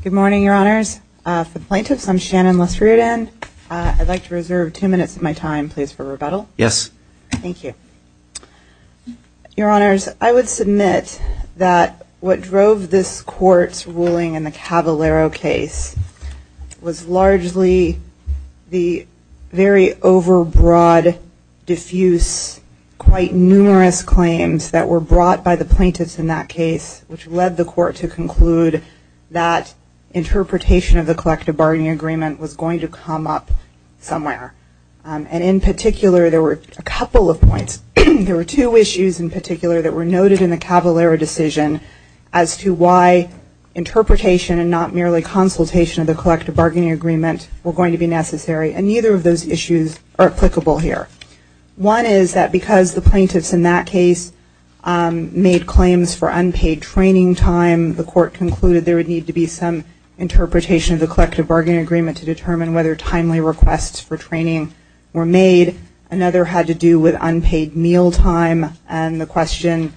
Good morning, Your Honors. For the plaintiffs, I'm Shannon Lesrudin. I'd like to reserve two minutes of my time, please, for rebuttal. Yes. Thank you. Your Honors, I would submit that what drove this Court's ruling in the Cavalero case was largely the very overbroad, diffuse, quite numerous claims that were brought by the plaintiffs in that case, which led the Court to conclude that interpretation of the collective bargaining agreement was going to come up somewhere. And in particular, there were a couple of points. There were two issues in particular that were noted in the Cavalero decision as to why interpretation and not merely consultation of the collective bargaining agreement were going to be necessary. And neither of those issues are applicable here. One is that because the plaintiffs in that case made claims for unpaid training time, the Court concluded there would need to be some interpretation of the collective bargaining agreement to determine whether timely requests for training were made. Another had to do with unpaid meal time and the question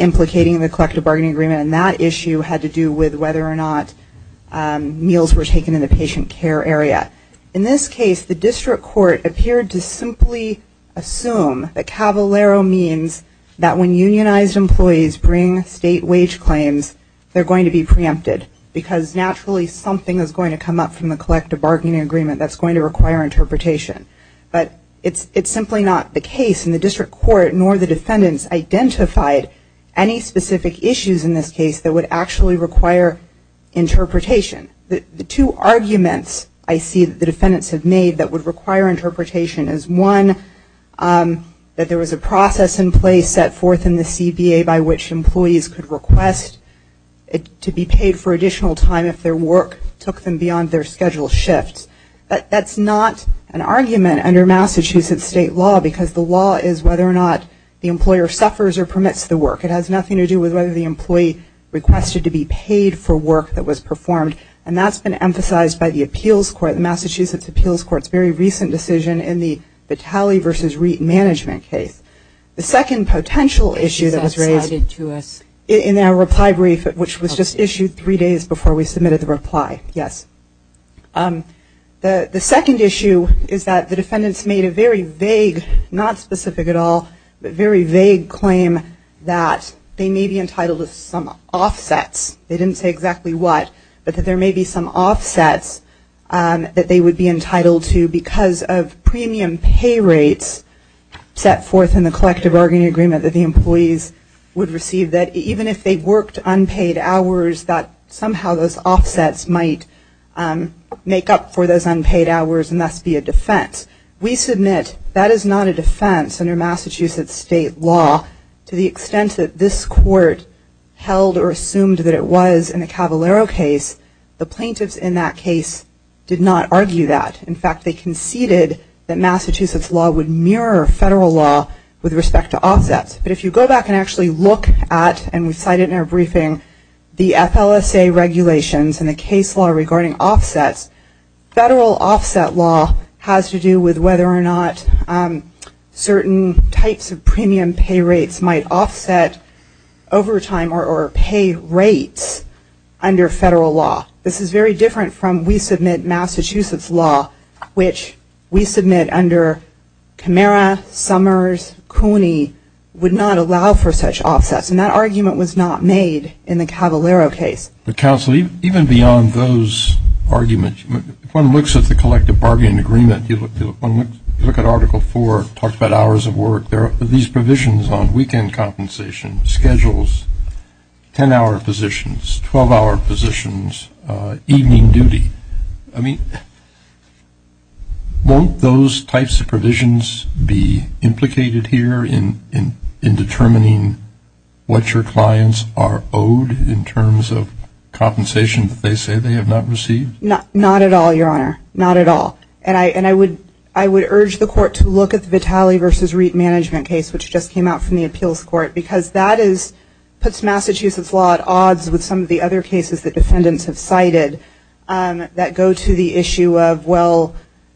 implicating the collective bargaining agreement. And that issue had to do with whether or not meals were taken in the patient care area. In this case, the District Court appeared to simply assume that Cavalero means that when unionized employees bring state wage claims, they're going to be preempted because naturally something is going to come up from the collective bargaining agreement that's going to require interpretation. But it's simply not the case in the District Court nor the defendants identified any specific issues in this case that would actually require interpretation. The two arguments I see that the defendants have made that would require interpretation is one, that there was a process in place set forth in the CBA by which employees could request to be paid for additional time if their work took them beyond their scheduled shifts. That's not an argument under Massachusetts state law because the law is whether or not the employer suffers or permits the work. It has nothing to do with whether the employee requested to be paid for work that was performed. And that's been emphasized by the appeals court, the Massachusetts appeals court's very recent decision in the Vitale v. Reit management case. The second potential issue that was raised in our reply brief which was issued three days before we submitted the reply, yes. The second issue is that the defendants made a very vague, not specific at all, but very vague claim that they may be entitled to some offsets. They didn't say exactly what, but that there may be some offsets that they would be entitled to because of premium pay rates set forth in the collective bargaining agreement that the employees would receive that even if they worked unpaid hours that somehow those offsets might make up for those unpaid hours and thus be a defense. We submit that is not a defense under Massachusetts state law to the extent that this court held or assumed that it was in the Cavallaro case. The plaintiffs in that case did not argue that. In fact, they conceded that Massachusetts law would mirror federal law with respect to offsets. But if you go back and actually look at, and we cited in our briefing, the FLSA regulations and the case law regarding offsets, federal offset law has to do with whether or not certain types of premium pay rates might offset overtime or pay rates under federal law. This is very different from we submit Massachusetts law, which we submit under Camara, Summers, Cooney, would not allow for such offsets. And that argument was not made in the Cavallaro case. But counsel, even beyond those arguments, if one looks at the collective bargaining agreement, you look at Article 4, it talks about hours of work. There are these provisions on weekend compensation, schedules, 10-hour positions, 12-hour positions, evening duty. I mean, won't those types of provisions be implicated here in determining what your clients are owed in terms of compensation that they say they have not received? Not at all, Your Honor. Not at all. And I would urge the court to look at the Vitale v. Reitt management case, which just came out from the appeals court, because that puts Massachusetts law at odds with some of the other cases that defendants have cited that go to the issue of, well,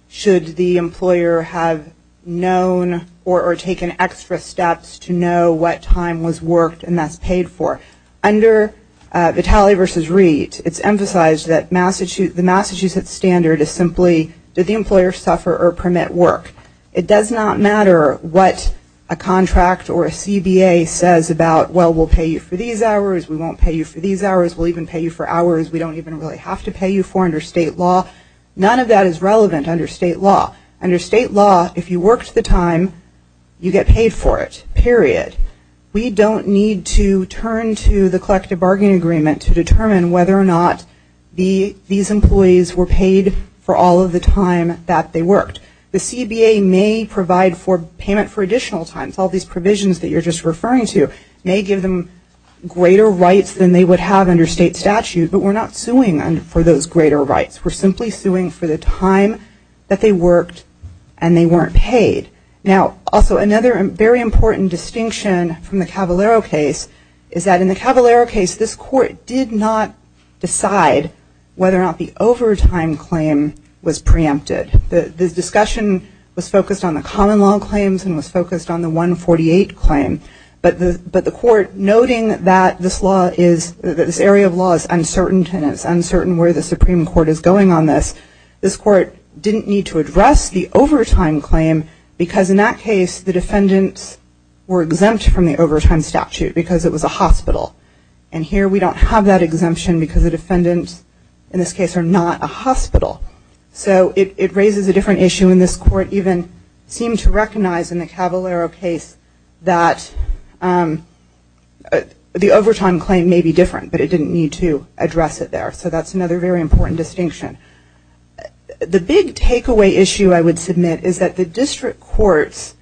should the employer have known or taken extra steps to know what time was worked and that's paid for? Under Vitale v. Reitt, it's emphasized that the Massachusetts standard is simply, did the employer suffer or permit work? It does not matter what a contract or a CBA says about, well, we'll pay you for these hours, we won't pay you for these hours, we'll even pay you for hours we don't even really have to pay you for under state law. None of that is relevant under state law. Under state law, if you worked the time, you get paid for it, period. We don't need to turn to the collective bargaining agreement to determine whether or not these employees were paid for all of the time that they worked. The CBA may provide for payment for additional time. All these provisions that you're just referring to may give them greater rights than they would have under state statute, but we're not suing them for those greater rights. We're simply suing for the time that they worked and they weren't paid. Now, also, another very important distinction from the Cavalero case is that in the Cavalero case, this court did not decide whether or not the overtime claim was preempted. The case was focused on the 148 claim, but the court, noting that this area of law is uncertain and it's uncertain where the Supreme Court is going on this, this court didn't need to address the overtime claim because in that case the defendants were exempt from the overtime statute because it was a hospital. And here we don't have that exemption because the defendants, in this case, are not a hospital. So it raises a different issue and this court even seemed to recognize in the Cavalero case that the overtime claim may be different, but it didn't need to address it there. So that's another very important distinction. The big takeaway issue I would submit is that the district courts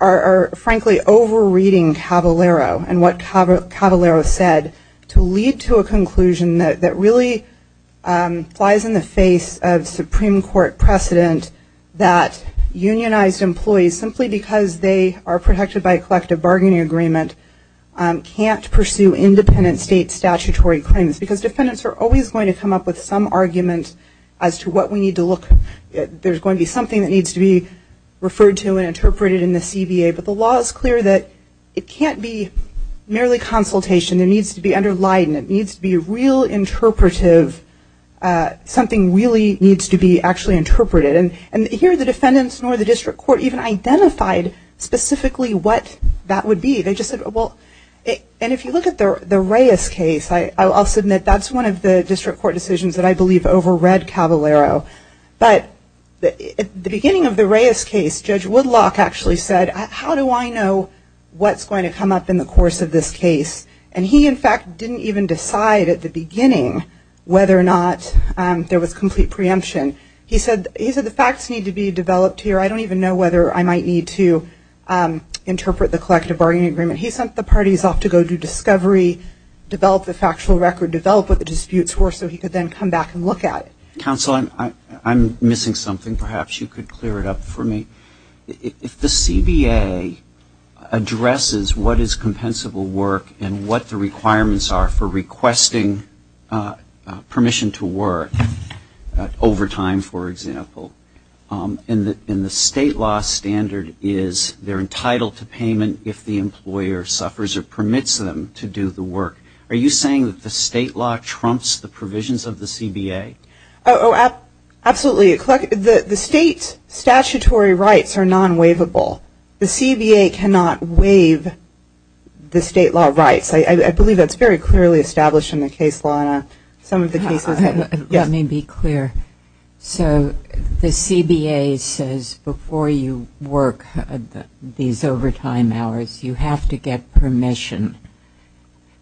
are frankly over-reading Cavalero and what Cavalero said to lead to a conclusion that really flies in the face of Supreme Court precedent that unionized employees, simply because they are protected by a collective bargaining agreement, can't pursue independent state statutory claims because defendants are always going to come up with some argument as to what we need to look at. There's going to be something that needs to be referred to and interpreted in the CBA, but the law is clear that it can't be merely consultation. There needs to be underlined and it needs to be real interpretive. Something really needs to be actually interpreted. And here the defendants nor the district court even identified specifically what that would be. They just said, well, and if you look at the Reyes case, I'll submit that's one of the district court decisions that I believe over-read Cavalero. But at the beginning of the Reyes case, Judge Woodlock actually said, how do I know what's going to come up in the Reyes case? And he, in fact, didn't even decide at the beginning whether or not there was complete preemption. He said the facts need to be developed here. I don't even know whether I might need to interpret the collective bargaining agreement. He sent the parties off to go do discovery, develop the factual record, develop what the disputes were so he could then come back and look at it. Counsel, I'm missing something. Perhaps you could clear it up for me. If the CBA addresses what is compensable work and what the requirements are for requesting permission to work, overtime for example, and the state law standard is they're entitled to payment if the employer suffers or permits them to do the work, are you saying that the state law trumps the provisions of the CBA? Oh, absolutely. The state statutory rights are non-waivable. The CBA cannot waive the state law rights. I believe that's very clearly established in the case law in some of the cases. Let me be clear. So the CBA says before you work these overtime hours, you have to get permission.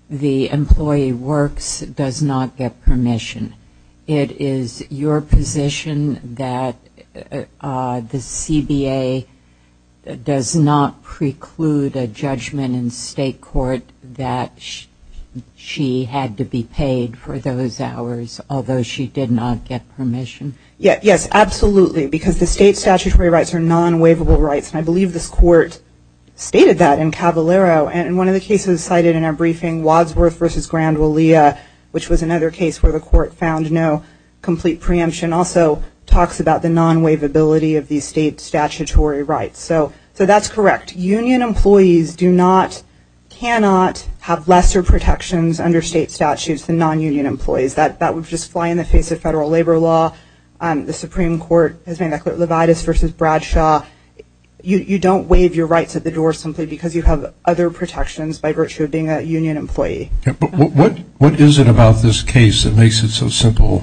The employee works does not get permission. It is your position that the CBA does not preclude a judgment in state court that she had to be paid for those hours, although she did not get permission? Yes, absolutely, because the state statutory rights are non-waivable rights. I believe this court stated that in Cavallaro. In one of the cases cited in our briefing, Wadsworth v. Grand Willia, which was another case where the court found no complete preemption, also talks about the non-waivability of the state statutory rights. So that's correct. Union employees do not, cannot have lesser protections under state statutes than non-union employees. That would just fly in the face of federal labor law. The Supreme Court has made that clear. Levitas v. Bradshaw, you don't waive your rights at the door simply because you have other protections by virtue of being a union employee. But what is it about this case that makes it so simple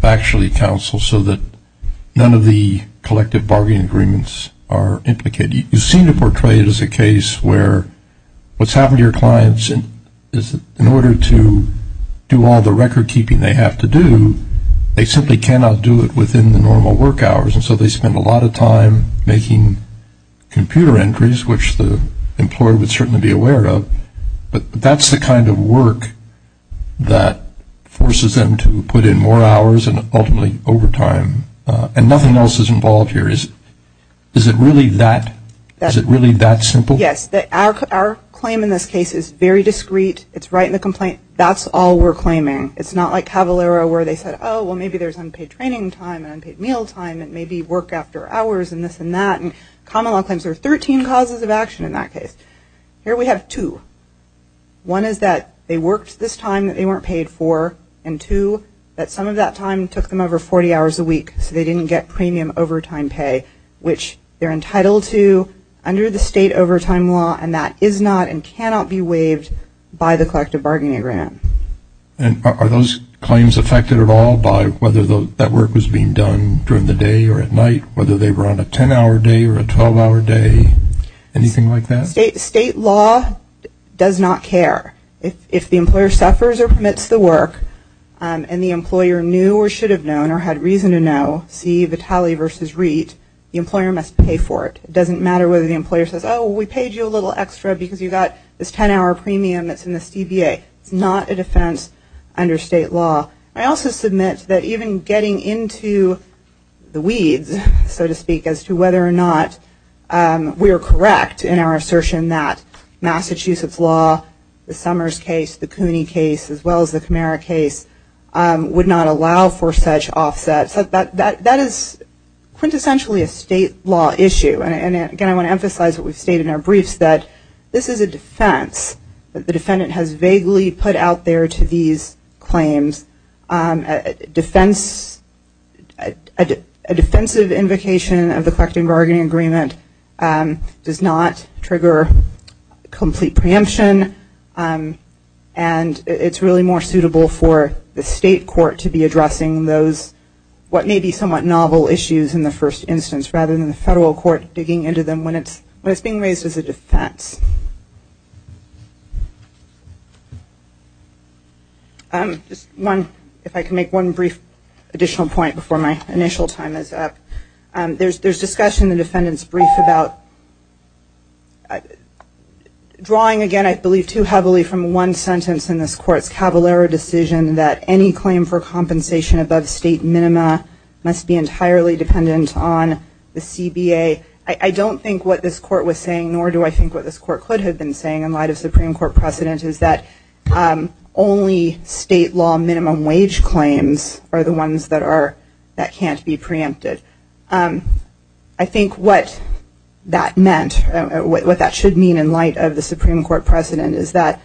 to actually counsel so that none of the collective bargaining agreements are implicated? You seem to portray it as a case where what's happened to your clients is that in order to do all the record keeping they have to do, they simply cannot do it within the normal work hours, and so they spend a lot of time making computer entries, which the employer would certainly be aware of. But that's the kind of work that forces them to put in more hours and ultimately overtime. And nothing else is involved here. Is it really that, is it really that simple? Yes. Our claim in this case is very discreet. It's right in the complaint. That's all we're claiming. It's not like Cavalera where they said, oh, well maybe there's unpaid training time and unpaid meal time and maybe work after hours and this and that. And common law claims are 13 causes of action in that case. Here we have two. One is that they worked this time that they weren't paid for, and two, that some of that time took them over 40 hours a week so they didn't get premium overtime pay, which they're entitled to under the state overtime law and that is not and cannot be waived by the collective bargaining agreement. And are those claims affected at all by whether that work was being done during the day or at night, whether they were on a 10-hour day or a 12-hour day, anything like that? State law does not care. If the employer suffers or permits the work and the employer knew or should have known or had reason to know, see Vitale v. Reit, the employer must pay for it. It doesn't matter whether the employer says, oh, we paid you a little extra because you got this 10-hour premium that's in this DBA. It's not a defense under state law. I also submit that even getting into the weeds, so to speak, as to whether or not we are correct in our assertion that Massachusetts law, the Summers case, the Cooney case, as well as the Camara case, would not allow for such offsets. That is quintessentially a state law issue. And again, I want to emphasize what we've stated in our briefs that this is a defense that the defendant has vaguely put out there to these claims. A defensive invocation of the collecting bargaining agreement does not trigger complete preemption and it's really more suitable for the state court to be addressing those what may be somewhat novel issues in the first instance rather than the federal court digging into them when it's being raised as a defense. If I can make one brief additional point before my initial time is up. There's discussion in the defendant's brief about drawing, again, I believe too heavily from one sentence in this court's Cavallaro decision that any claim for compensation above state minima must be saying, nor do I think what this court could have been saying in light of Supreme Court precedent, is that only state law minimum wage claims are the ones that can't be preempted. I think what that meant, what that should mean in light of the Supreme Court precedent is that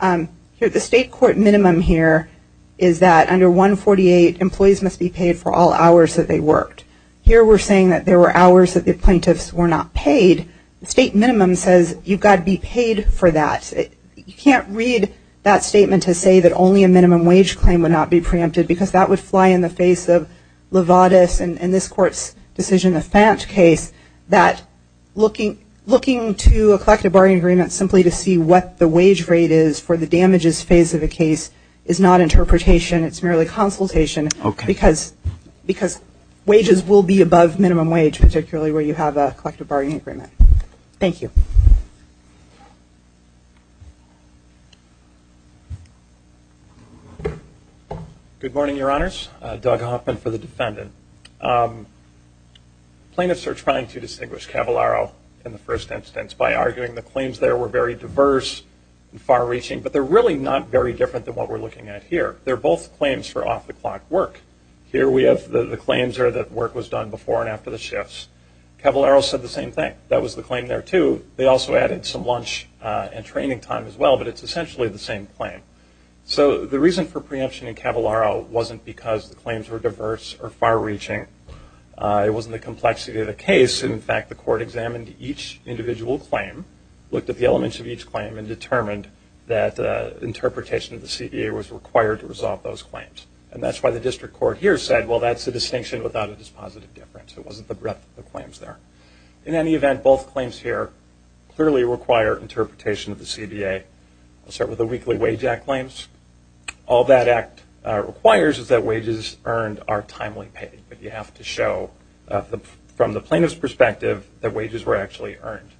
the state court minimum here is that under 148 employees must be paid for all hours that they worked. Here we're saying that there were hours that the plaintiffs were not paid. State minimum says you've got to be paid for that. You can't read that statement to say that only a minimum wage claim would not be preempted because that would fly in the face of Levatas and this court's decision, the Fante case, that looking to a collective bargaining agreement simply to see what the wage rate is for the damages phase of the case is not interpretation, it's merely consultation because wages will be above minimum wage, particularly where you have a collective bargaining agreement. Thank you. Good morning, your honors. Doug Hoffman for the defendant. Plaintiffs are trying to distinguish Cavallaro in the first instance by arguing the claims there were very diverse and far reaching, but they're really not very different than what we're looking at here. They're both claims for off-the-clock work. Here we have the claims that work was done before and after the shifts. Cavallaro said the same thing. That was the claim there too. They also added some lunch and training time as well, but it's essentially the same claim. So the reason for preemption in Cavallaro wasn't because the claims were diverse or far reaching. It wasn't the complexity of the case. In fact, the court examined each individual claim, looked at the elements of each claim and determined that interpretation of the CBA was required to resolve those claims. And that's why the district court here said, well, that's a distinction without a dispositive difference. It wasn't the breadth of the claims there. In any event, both claims here clearly require interpretation of the CBA. I'll start with the Weekly Wage Act claims. All that Act requires is that wages earned are timely paid, but you have to show from the plaintiff's perspective that wages were actually earned.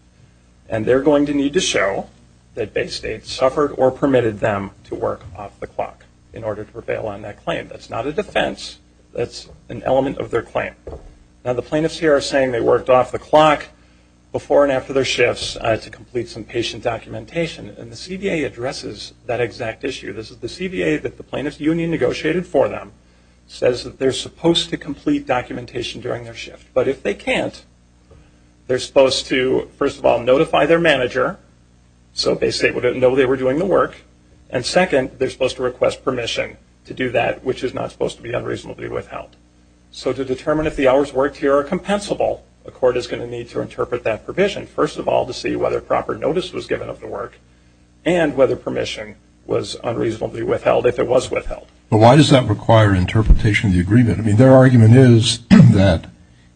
And they're going to need to show that Bay State suffered or permitted them to work off-the-clock in order to prevail on that claim. That's not a defense. That's an element of their claim. Now the plaintiffs here are saying they worked off-the-clock before and after their shifts to complete some patient documentation. And the CBA addresses that exact issue. This is the CBA that the plaintiff's union negotiated for them, says that they're supposed to complete documentation during their shift. But if they can't, they're supposed to, first of all, notify their manager so Bay State would know they were doing the work. And second, they're supposed to request permission to do that, which is not supposed to be unreasonably withheld. So to determine if the hours worked here are compensable, the court is going to need to interpret that provision, first of all, to see whether proper notice was given of the work and whether permission was unreasonably withheld, if it was withheld. But why does that require interpretation of the agreement? I mean, their argument is that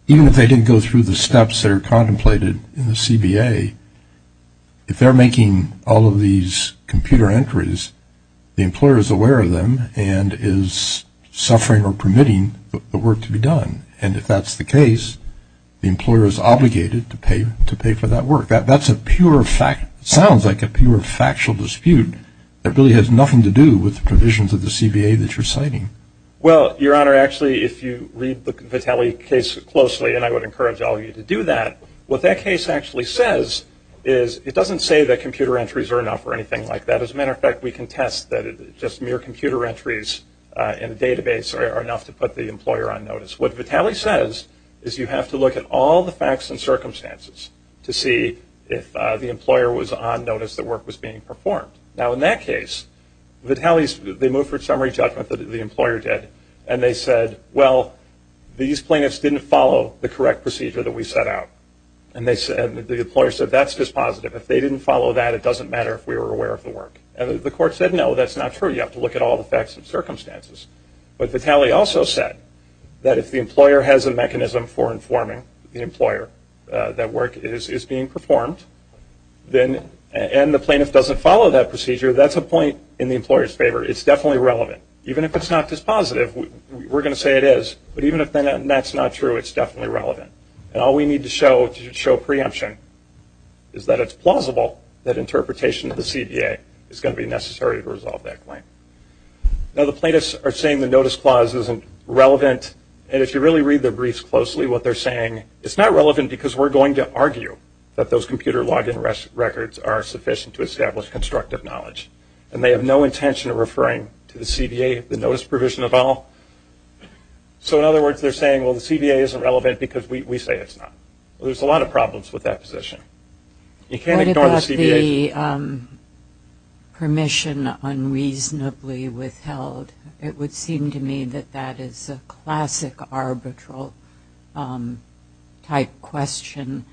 even if they didn't go through the steps that are contemplated in the CBA, if they're making all of these computer entries, the employer is aware of them and is suffering or permitting the work to be done. And if that's the case, the employer is obligated to pay for that work. That's a pure fact, sounds like a pure factual dispute that really has nothing to do with the provisions of the CBA that you're citing. Well, Your Honor, actually, if you read the Vitale case closely, and I would encourage all of you to do that, what that case actually says is it doesn't say that computer entries are enough or anything like that. As a matter of fact, we can test that just mere computer entries in a database are enough to put the employer on notice. What Vitale says is you have to look at all the facts and circumstances to see if the employer was on notice that work was being performed. Now in that case, Vitale's, they moved for a summary judgment that the employer did, and they said, well, these plaintiffs didn't follow the correct procedure that we set out. And the employer said, that's dispositive. If they didn't follow that, it doesn't matter if we were aware of the work. And the court said, no, that's not true. You have to look at all the facts and circumstances. But Vitale also said that if the employer has a mechanism for informing the employer that work is being performed, and the plaintiff doesn't follow that procedure, that's a point in the employer's favor. It's definitely relevant. Even if it's not dispositive, we're going to say it is. But even if that's not true, it's definitely relevant. And all we need to show to show preemption is that it's plausible that interpretation of the CDA is going to be necessary to resolve that claim. Now the plaintiffs are saying the notice clause isn't relevant. And if you really read the briefs closely, what they're saying, it's not relevant because we're going to argue that those computer login records are sufficient to establish constructive knowledge. And they have no intention of referring to the CDA, the notice provision at all. So in other words, they're saying, well, the CDA isn't relevant because we say it's not. Well, there's a lot of problems with that position. You can't ignore the CDA. What about the permission unreasonably withheld? It would seem to me that that is a classic arbitral type question.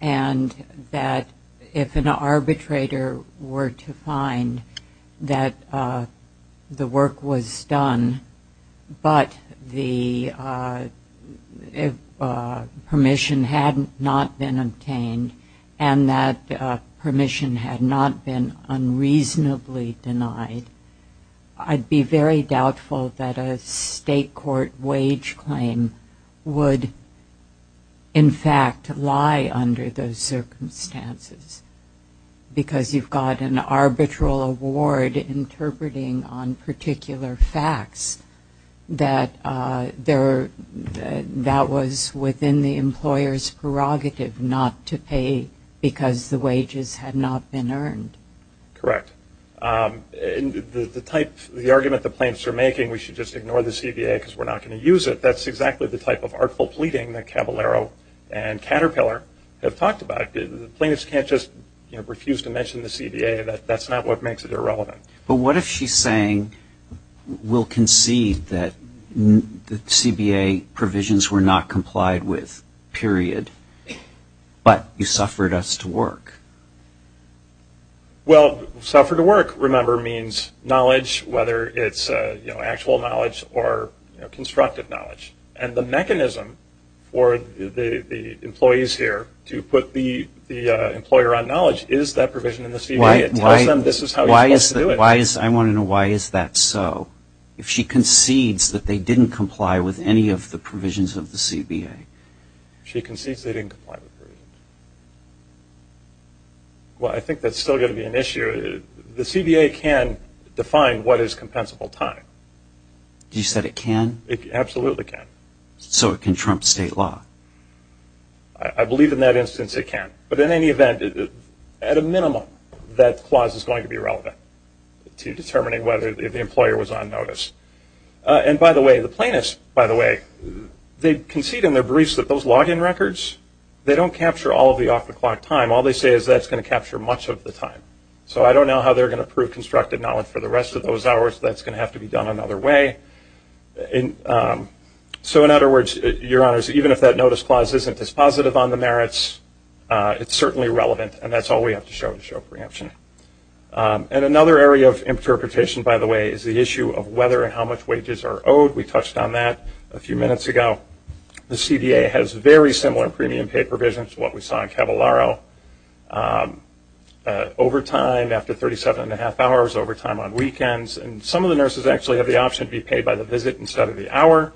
And that if an arbitrator were to find that the work was done, but the permission had not been obtained, and that permission had not been unreasonably denied, I'd be very doubtful that a state court wage claim would, in fact, lie under those circumstances. Because you've got an arbitral award interpreting on particular facts that was within the employer's prerogative not to pay because the wages had not been earned. Correct. The argument the plaintiffs are making, we should just ignore the CDA because we're not going to use it, that's exactly the type of artful pleading that Caballero and Caterpillar have talked about. The plaintiffs can't just refuse to mention the CDA. That's not what makes it irrelevant. But what if she's saying, we'll concede that the CBA provisions were not complied with, period, but you suffered us to work? Well, suffer to work, remember, means knowledge, whether it's actual knowledge or constructive knowledge. And the mechanism for the employees here to put the employer on knowledge is that provision in the CBA. It tells them this is how you're supposed to do it. I want to know why is that so? If she concedes that they didn't comply with any of the provisions of the CBA. She concedes they didn't comply with the provisions. Well, I think that's still going to be an issue. The CBA can define what is compensable time. You said it can? It absolutely can. So it can trump state law? I believe in that instance it can. But in any event, at a minimum, that clause is going to be relevant to determining whether the employer was on notice. And by the way, the concede in their briefs that those log in records, they don't capture all of the off the clock time. All they say is that's going to capture much of the time. So I don't know how they're going to prove constructive knowledge for the rest of those hours. That's going to have to be done another way. So in other words, your honors, even if that notice clause isn't as positive on the merits, it's certainly relevant. And that's all we have to show to show preemption. And another area of interpretation, by the way, is the issue of whether and how much ago the CBA has very similar premium paid provisions to what we saw in Cavallaro. Overtime after 37 and a half hours. Overtime on weekends. And some of the nurses actually have the option to be paid by the visit instead of the hour.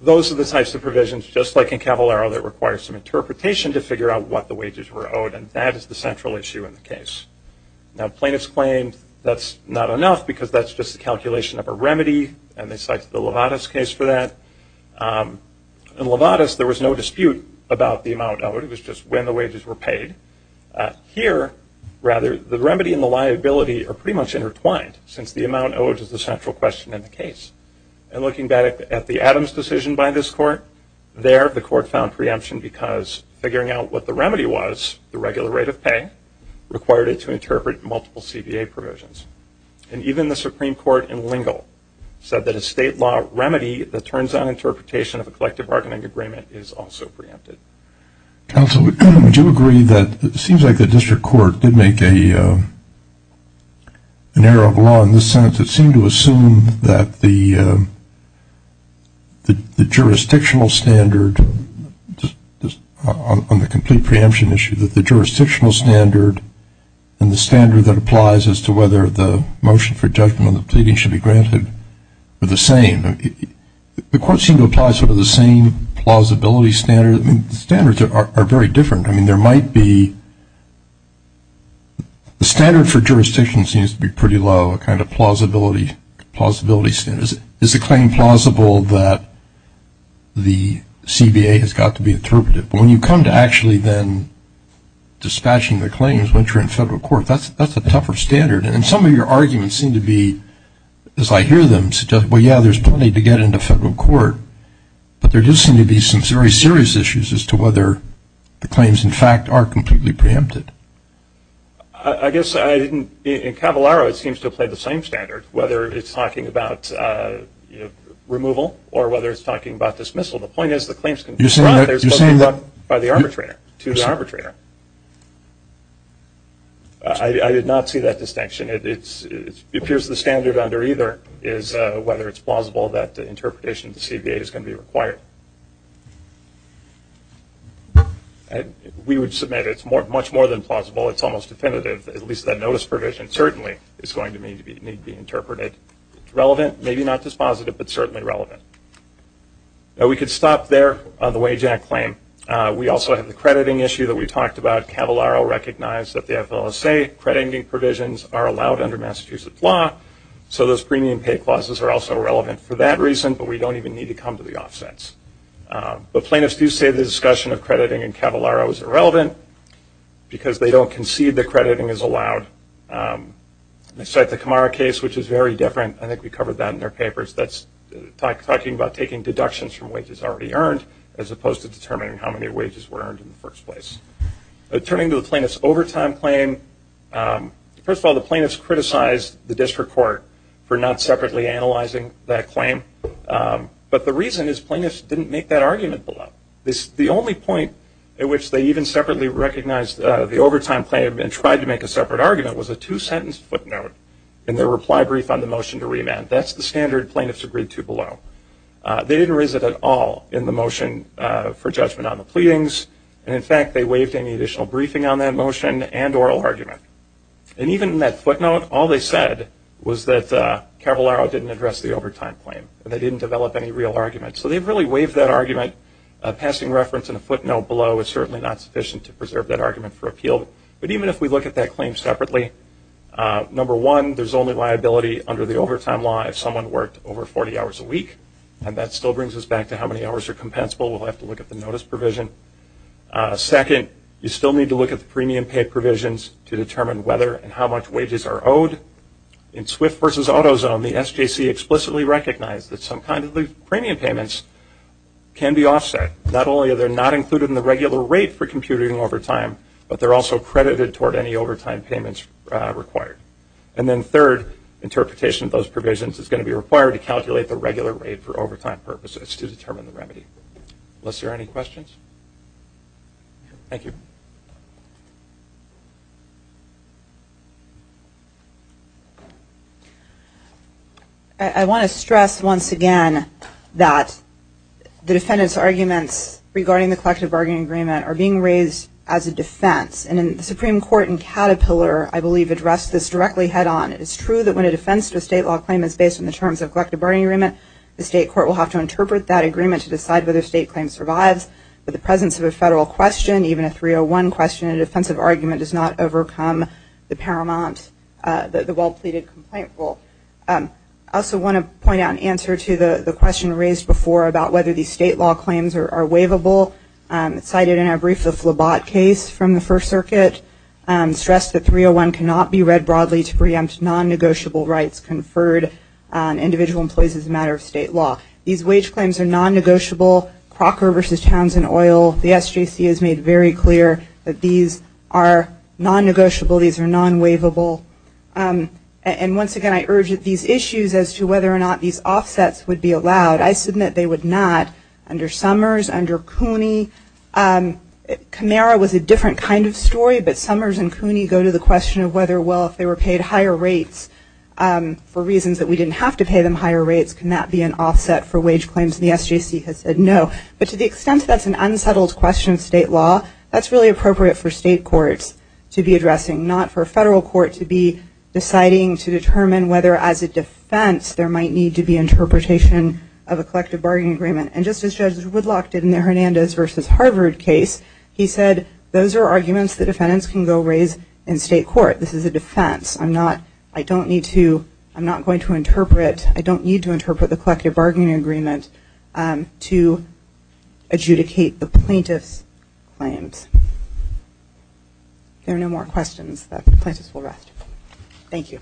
Those are the types of provisions, just like in Cavallaro, that require some interpretation to figure out what the wages were owed. And that is the central issue in the case. Now plaintiffs claim that's not enough because that's just a calculation of a remedy and they cite the Lovatis case for that. In Lovatis, there was no dispute about the amount owed. It was just when the wages were paid. Here, rather, the remedy and the liability are pretty much intertwined since the amount owed is the central question in the case. And looking back at the Adams decision by this court, there the court found preemption because figuring out what the remedy was, the regular rate of pay, required it to interpret multiple CBA provisions. And even the Supreme Court in Lingle said that a state law remedy that turns on interpretation of a collective bargaining agreement is also preempted. Counsel, would you agree that it seems like the district court did make an error of law in this sentence. It seemed to assume that the jurisdictional standard, on the complete preemption issue, that the jurisdictional standard and the standard that applies as to whether the motion for judgment on the pleading should be granted are the same. The court seemed to apply sort of the same plausibility standard. I mean, the standards are very different. I mean, there might be the standard for jurisdiction seems to be pretty low, a kind of plausibility standard. Is the claim plausible that the CBA has got to be interpreted? But when you come to actually then dispatching the claims when you're in federal court, that's a tougher standard. And some of your arguments seem to be, as I hear them, well, yeah, there's plenty to get into federal court. But there does seem to be some very serious issues as to whether the claims, in fact, are completely preempted. I guess I didn't, in Cavallaro it seems to play the same standard, whether it's talking about removal or whether it's talking about dismissal. The point is the claims can be brought, they're supposed to be brought by the arbitrator, to the arbitrator. I did not see that distinction. It appears the standard under either is whether it's plausible that the interpretation of the CBA is going to be required. We would submit it's much more than plausible. It's almost definitive. At least that notice provision certainly is going to need to be interpreted. It's relevant, maybe not dispositive, but certainly relevant. Now we could stop there on the Wage Act claim. We also have the crediting issue that we talked about. Cavallaro recognized that the FLSA crediting provisions are allowed under Massachusetts law. So those premium pay clauses are also relevant for that reason, but we don't even need to come to the offsets. But plaintiffs do say the discussion of crediting in Cavallaro is irrelevant because they don't concede that crediting is allowed. They cite the Camara case, which is very different. I think we covered that in their papers. That's talking about taking deductions from wages already earned as opposed to determining how many wages were earned in the first place. Turning to the plaintiff's overtime claim, first of all, the plaintiffs criticized the district court for not separately analyzing that claim. But the reason is plaintiffs didn't make that argument below. The only point at which they even separately recognized the overtime claim and tried to make a separate argument was a two-sentence footnote in their reply brief on the motion to remand. That's the standard plaintiffs agreed to below. They didn't raise it at all in the motion for judgment on the pleadings. And in fact, they waived any additional briefing on that motion and oral argument. And even in that footnote, all they said was that Cavallaro didn't address the overtime claim, and they didn't develop any real argument. So they've really waived that argument. Passing reference in a footnote below is certainly not sufficient to preserve that argument for liability under the overtime law if someone worked over 40 hours a week. And that still brings us back to how many hours are compensable. We'll have to look at the notice provision. Second, you still need to look at the premium pay provisions to determine whether and how much wages are owed. In Swift v. AutoZone, the SJC explicitly recognized that some kind of premium payments can be offset. Not only are they not included in the regular rate for computing overtime, but they're also credited toward any overtime payments required. And then third, interpretation of those provisions is going to be required to calculate the regular rate for overtime purposes to determine the remedy. Unless there are any questions? Thank you. I want to stress once again that the defendant's arguments regarding the collective bargaining agreement are being raised as a defense. And the Supreme Court in Caterpillar, I believe, addressed this directly head-on. It is true that when a defense to a state law claim is based on the terms of a collective bargaining agreement, the state court will have to interpret that agreement to decide whether a state claim survives. But the presence of a federal question, even a 301 question in a defensive argument, does not overcome the paramount, the well-pleaded complaint rule. I also want to point out an answer to the question raised before about whether these state law claims are waivable. It's cited in our brief, the Phlebot case from the First Amendment. It can be read broadly to preempt non-negotiable rights conferred on individual employees as a matter of state law. These wage claims are non-negotiable. Crocker v. Townsend Oil, the SJC has made very clear that these are non-negotiable. These are non-waivable. And once again, I urge that these issues as to whether or not these offsets would be allowed, I submit they would not. Under Summers, under Cooney, Camara was a different kind of story, but Summers and Cooney go to the question of whether, well, if they were paid higher rates for reasons that we didn't have to pay them higher rates, can that be an offset for wage claims? And the SJC has said no. But to the extent that's an unsettled question of state law, that's really appropriate for state courts to be addressing, not for a federal court to be deciding to determine whether as a defense there might need to be interpretation of a collective bargaining agreement. And just as Judge Woodlock did in the Hernandez v. Harvard case, he said those are arguments the defendants can go raise in state court. This is a defense. I'm not, I don't need to, I'm not going to interpret, I don't need to interpret the collective bargaining agreement to adjudicate the plaintiff's claims. There are no more questions. The plaintiff will rest. Thank you. Thank you.